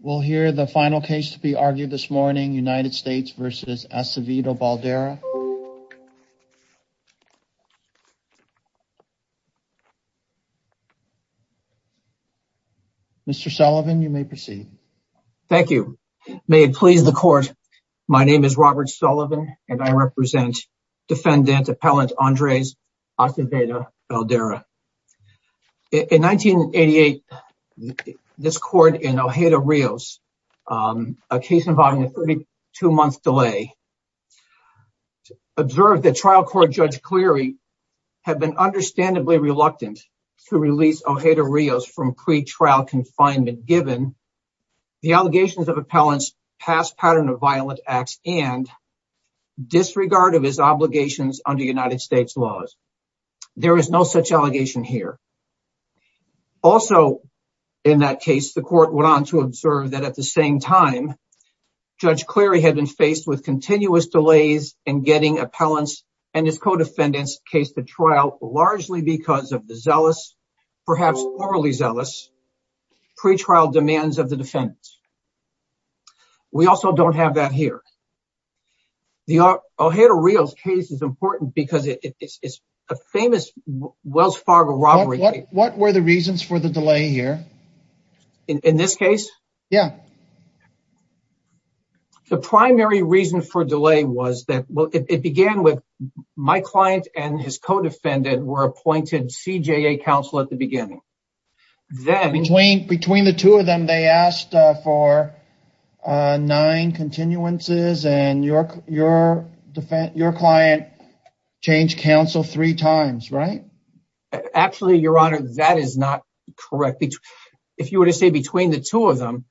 will hear the final case to be argued this morning, United States v. Acevedo-Baldera. Mr. Sullivan, you may proceed. Thank you. May it please the court, my name is Robert Sullivan and I represent defendant Appellant Andres Acevedo-Baldera. In 1988, this court in Ojeda-Rios, a case involving a 32-month delay, observed that trial court Judge Cleary had been understandably reluctant to release Ojeda-Rios from pretrial confinement given the allegations of Appellant's past pattern of violent acts and disregard of his In that case, the court went on to observe that at the same time, Judge Cleary had been faced with continuous delays in getting Appellant's and his co-defendants' case to trial largely because of the zealous, perhaps morally zealous, pretrial demands of the defendants. We also don't have that here. The Ojeda-Rios case is important because it's a famous Wells Fargo robbery. What were the reasons for the delay here? In this case? Yeah. The primary reason for delay was that it began with my client and his co-defendant were appointed CJA counsel at the beginning. Between the two of them, they asked for nine continuances and your client changed counsel three times, right? Actually, Your Honor, that is not correct. If you were to say between the two of them,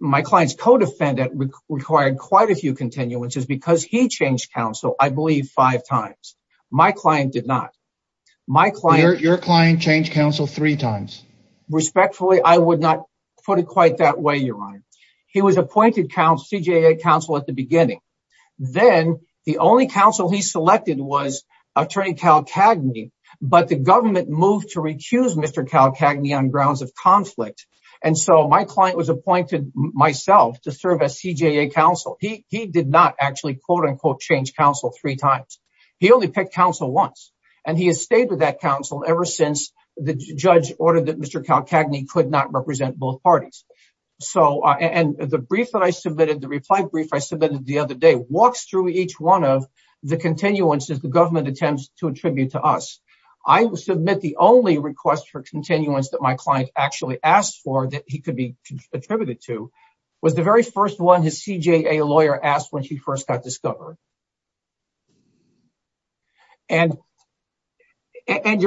my client's co-defendant required quite a few continuances because he changed counsel, I believe, five times. My client did not. Your client changed counsel three times. Respectfully, I would not put it quite that way, Your Honor. He was appointed CJA counsel at the beginning. Then the only counsel he selected was Attorney Cal Cagney, but the government moved to recuse Mr. Cal Cagney on grounds of conflict. My client was appointed myself to serve as CJA counsel. He did not actually, quote-unquote, change counsel three times. He only picked counsel once. He has stayed with that counsel ever since the judge ordered that Mr. Cal Cagney could not represent both parties. The brief that I submitted, the reply brief I submitted the other day, walks through each one of the continuances the government attempts to attribute to us. I submit the only request for continuance that my client actually asked for that he could be attributed to was the very first one his CJA lawyer asked when he first got discovered. Your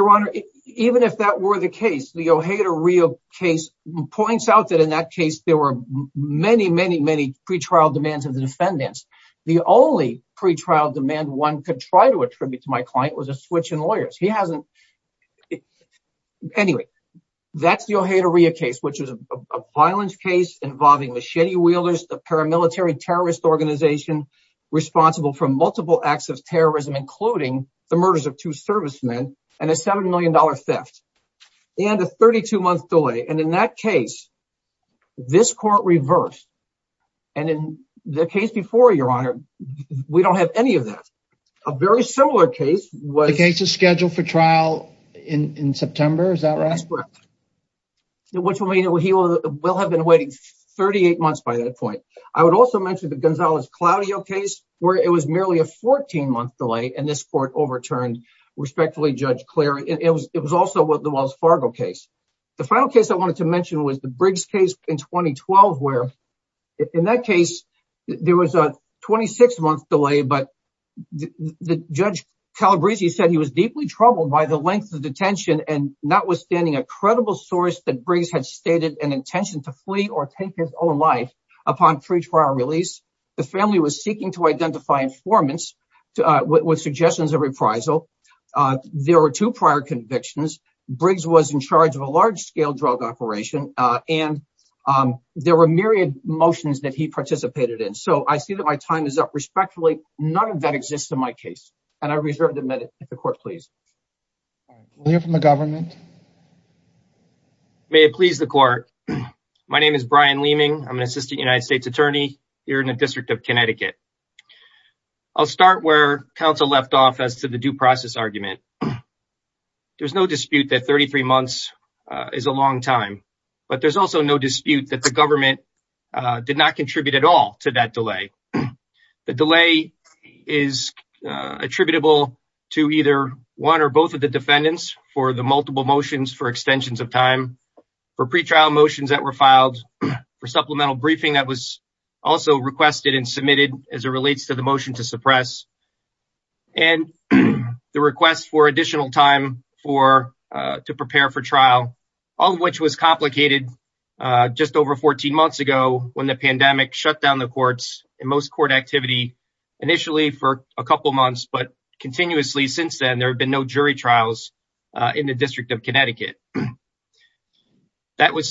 Honor, even if that were the case, the Ojeda-Rio case points out in that case there were many, many, many pretrial demands of the defendants. The only pretrial demand one could try to attribute to my client was a switch in lawyers. Anyway, that is the Ojeda-Rio case, which is a violent case involving machete wielders, the paramilitary terrorist organization responsible for multiple acts of terrorism, including the murders of two servicemen, and a $7 million theft, and a 32-month delay. In that case, this court reversed, and in the case before, Your Honor, we don't have any of that. A very similar case was... The case is scheduled for trial in September, is that right? That's correct, which will mean he will have been waiting 38 months by that point. I would also mention the Gonzalez-Claudio case, where it was merely a 14-month delay, and this court overturned, respectfully, Judge Cleary. It was also the Wells Fargo case. The final case I wanted to mention was the Briggs case in 2012, where in that case, there was a 26-month delay, but Judge Calabresi said he was deeply troubled by the length of detention, and notwithstanding a credible source that Briggs had stated an intention to flee or take his own life upon pretrial release, the family was seeking to identify informants with suggestions of reprisal. There were two convictions. Briggs was in charge of a large-scale drug operation, and there were myriad motions that he participated in, so I see that my time is up. Respectfully, none of that exists in my case, and I reserve the minute. The court, please. We'll hear from the government. May it please the court. My name is Brian Leeming. I'm an Assistant United States Attorney here in the District of Connecticut. I'll start where counsel left off as to the due process argument. There's no dispute that 33 months is a long time, but there's also no dispute that the government did not contribute at all to that delay. The delay is attributable to either one or both of the defendants for the multiple motions for extensions of time, for pretrial motions that were filed, for supplemental briefing that was also requested and submitted as it relates to the motion to suppress, and the request for additional time to prepare for trial, all of which was complicated just over 14 months ago when the pandemic shut down the courts and most court activity initially for a couple months, but continuously since then there have been no jury trials in the District of Connecticut. Was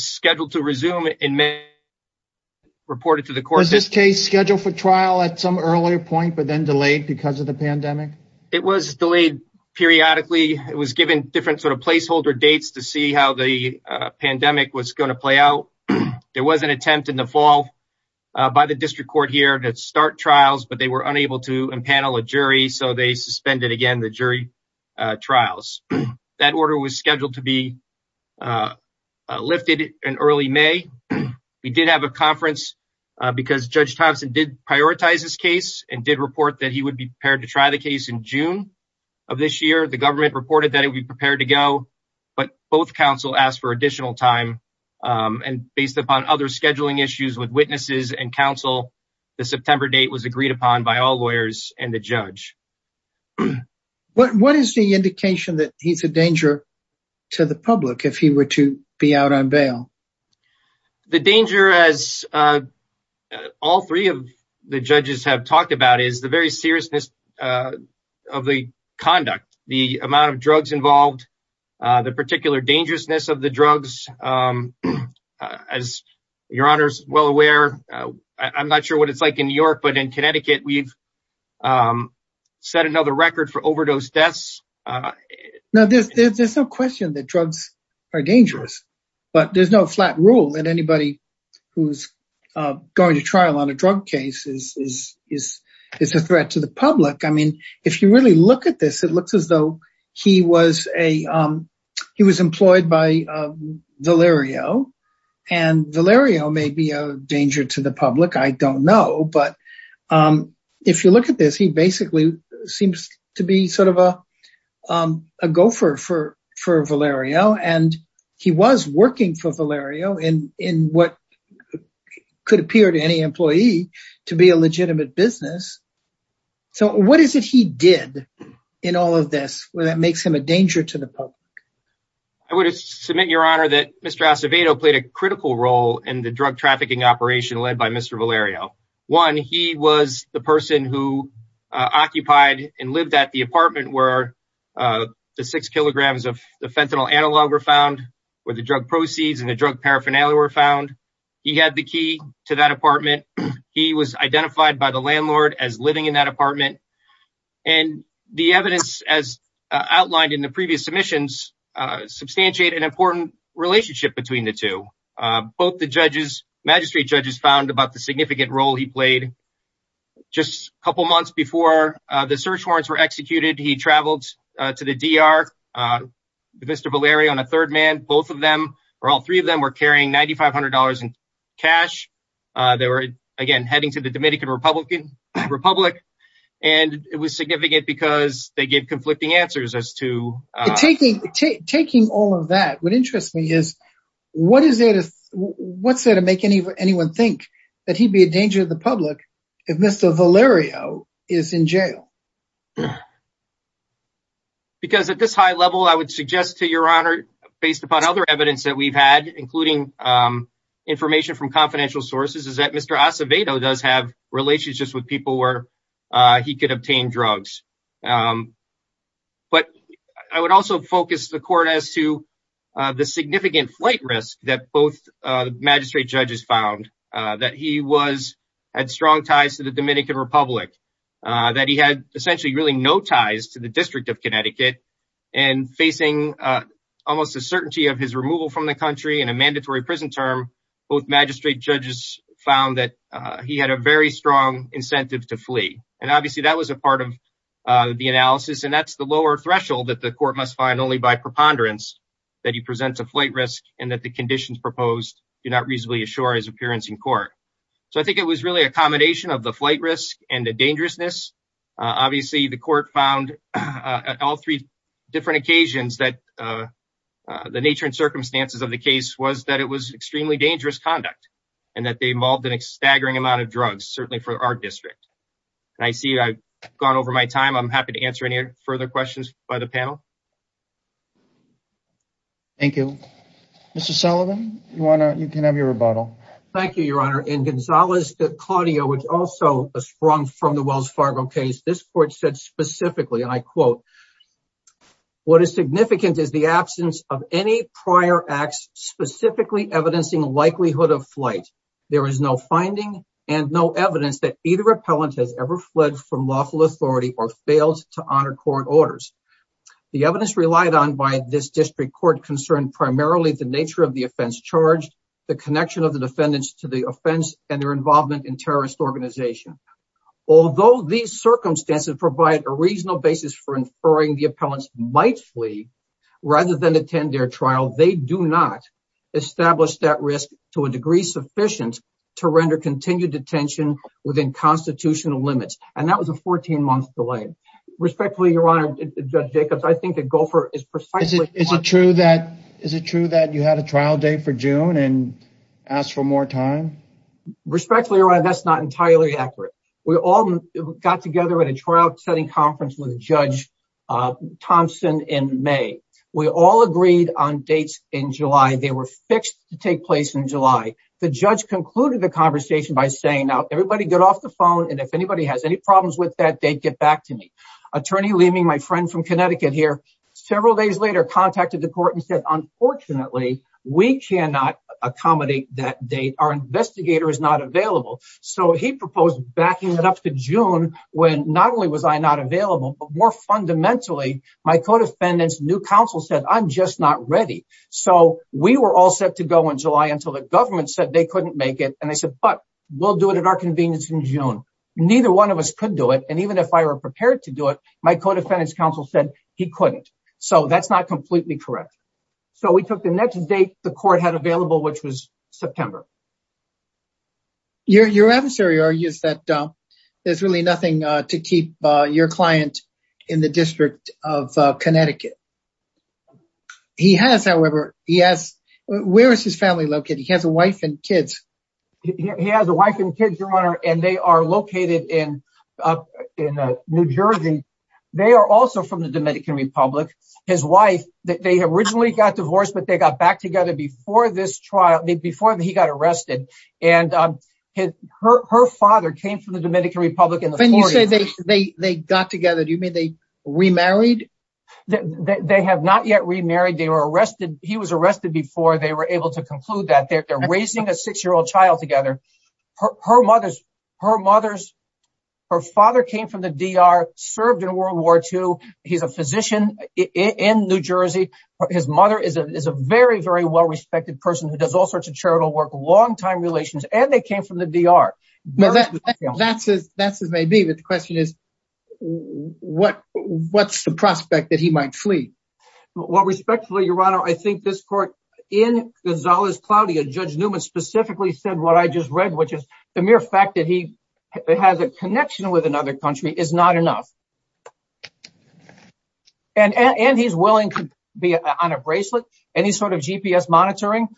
this case scheduled for trial at some earlier point, but then delayed because of the pandemic? It was delayed periodically. It was given different sort of placeholder dates to see how the pandemic was going to play out. There was an attempt in the fall by the District Court here to start trials, but they were unable to empanel a jury, so they suspended again the jury trials. That order was scheduled to be lifted in early May. We did have a conference because Judge Thompson did prioritize this case and did report that he would be prepared to try the case in June of this year. The government reported that it would be prepared to go, but both counsel asked for additional time, and based upon other scheduling issues with witnesses and counsel, the September date was agreed upon by all lawyers and the judge. What is the indication that he's a danger to the public if he were to be out on bail? The danger, as all three of the judges have talked about, is the very seriousness of the conduct, the amount of drugs involved, the particular dangerousness of the drugs. As your honor is well aware, I'm not sure what it's like in New York, but in Connecticut we've set another record for overdose deaths. There's no question that drugs are dangerous, but there's no flat rule that anybody who's going to trial on a drug case is a threat to the public. If you really look at this, it looks as though he was employed by Valerio, and Valerio may be a drug dealer. If you look at this, he basically seems to be a gopher for Valerio, and he was working for Valerio in what could appear to any employee to be a legitimate business. What is it he did in all of this that makes him a danger to the public? I would submit, your honor, that Mr. Acevedo played a critical role in the drug trafficking operation led by Mr. Valerio. One, he was the person who occupied and lived at the apartment where the six kilograms of the fentanyl analog were found, where the drug proceeds and the drug paraphernalia were found. He had the key to that apartment. He was identified by the landlord as living in that apartment, and the evidence, as outlined in the previous submissions, substantiate an important relationship between the two. Both the magistrate judges found about the significant role he played. Just a couple months before the search warrants were executed, he traveled to the D.R., Mr. Valerio and a third man. All three of them were carrying $9,500 in cash. They were, again, heading to the Dominican Republic, and it was significant because they gave all of that. What interests me is, what's there to make anyone think that he'd be a danger to the public if Mr. Valerio is in jail? At this high level, I would suggest, to your honor, based upon other evidence that we've had, including information from confidential sources, is that Mr. Acevedo does have relationships with people where he could obtain drugs. I would also focus the court as to the significant flight risk that both magistrate judges found, that he had strong ties to the Dominican Republic, that he had essentially no ties to the District of Connecticut. Facing almost a certainty of his removal from the country and a mandatory prison term, both magistrate judges found that he had a very strong incentive to flee. Obviously, that was a part of the analysis, and that's the lower threshold that the court must find only by preponderance, that he presents a flight risk and that the conditions proposed do not reasonably assure his appearance in court. I think it was really a combination of the flight risk and the dangerousness. Obviously, the court found at all three different occasions that the nature and circumstances of the certainly for our district. I see I've gone over my time. I'm happy to answer any further questions by the panel. Thank you. Mr. Sullivan, you can have your rebuttal. Thank you, your honor. In Gonzalez de Claudio, which also sprung from the Wells Fargo case, this court said specifically, and I quote, what is significant is the absence of any prior acts specifically evidencing likelihood of flight. There is no finding and no evidence that either appellant has ever fled from lawful authority or failed to honor court orders. The evidence relied on by this district court concern primarily the nature of the offense charged, the connection of the defendants to the offense and their involvement in terrorist organization. Although these circumstances provide a reasonable basis for inferring the appellants might flee rather than attend their trial, they do not establish that risk to a degree sufficient to render continued detention within constitutional limits. And that was a 14 month delay. Respectfully, your honor, Judge Jacobs, I think the gopher is precise. Is it true that you had a trial date for June and asked for more time? Respectfully, your honor, that's not entirely accurate. We all got together at a trial setting conference with Judge Thompson in May. We all agreed on dates in July. They were fixed to take place in July. The judge concluded the conversation by saying, now everybody get off the phone and if anybody has any problems with that date, get back to me. Attorney Leeming, my friend from Connecticut here, several days later contacted the court and said, unfortunately, we cannot accommodate that date. Our investigator is not available. So he proposed backing it up to June when not only was I not available, but more fundamentally, my co-defendant's new counsel said, I'm just not ready. So we were all set to go in July until the government said they couldn't make it. And they said, but we'll do it at our convenience in June. Neither one of us could do it. And even if I were prepared to do it, my co-defendant's counsel said he couldn't. So that's not completely correct. So we took the next date the court had available, which was to keep your client in the District of Connecticut. He has, however, he has, where is his family located? He has a wife and kids. He has a wife and kids, Your Honor, and they are located in New Jersey. They are also from the Dominican Republic. His wife, they originally got divorced, but they got back together before this trial, before he got arrested. And her father came from the Dominican Republic. When you say they got together, do you mean they remarried? They have not yet remarried. They were arrested. He was arrested before they were able to conclude that. They're raising a six-year-old child together. Her mother's, her father came from the DR, served in World War II. He's a physician in New Jersey. His mother is a very, very well-respected person who does all sorts of charitable work, long-time relations, and they came from the DR. That's as it may be, but the question is, what's the prospect that he might flee? Well, respectfully, Your Honor, I think this court, in Gonzalez-Claudio, Judge Newman specifically said what I just read, which is the mere fact that he has a connection with another country is not enough. And he's willing to be on a bracelet, any sort of GPS monitoring,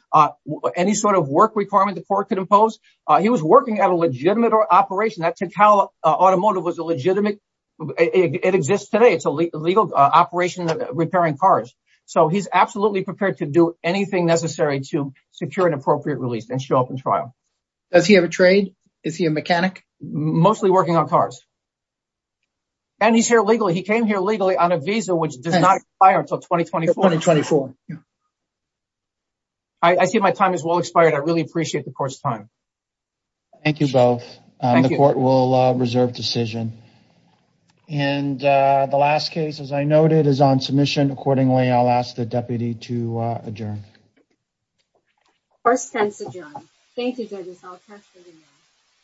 any sort of work requirement the court could impose. He was working at a legitimate operation. That Tintagel Automotive was a legitimate, it exists today. It's a legal operation repairing cars. So he's absolutely prepared to do anything necessary to secure an appropriate release and show up in trial. Does he have a trade? Is he a mechanic? Mostly working on cars. And he's here legally. He came here legally on a 24. I see my time has well expired. I really appreciate the court's time. Thank you both. The court will reserve decision. And the last case, as I noted, is on submission. Accordingly, I'll ask the deputy to adjourn. First tense adjourned. Thank you, judges. I'll catch you later.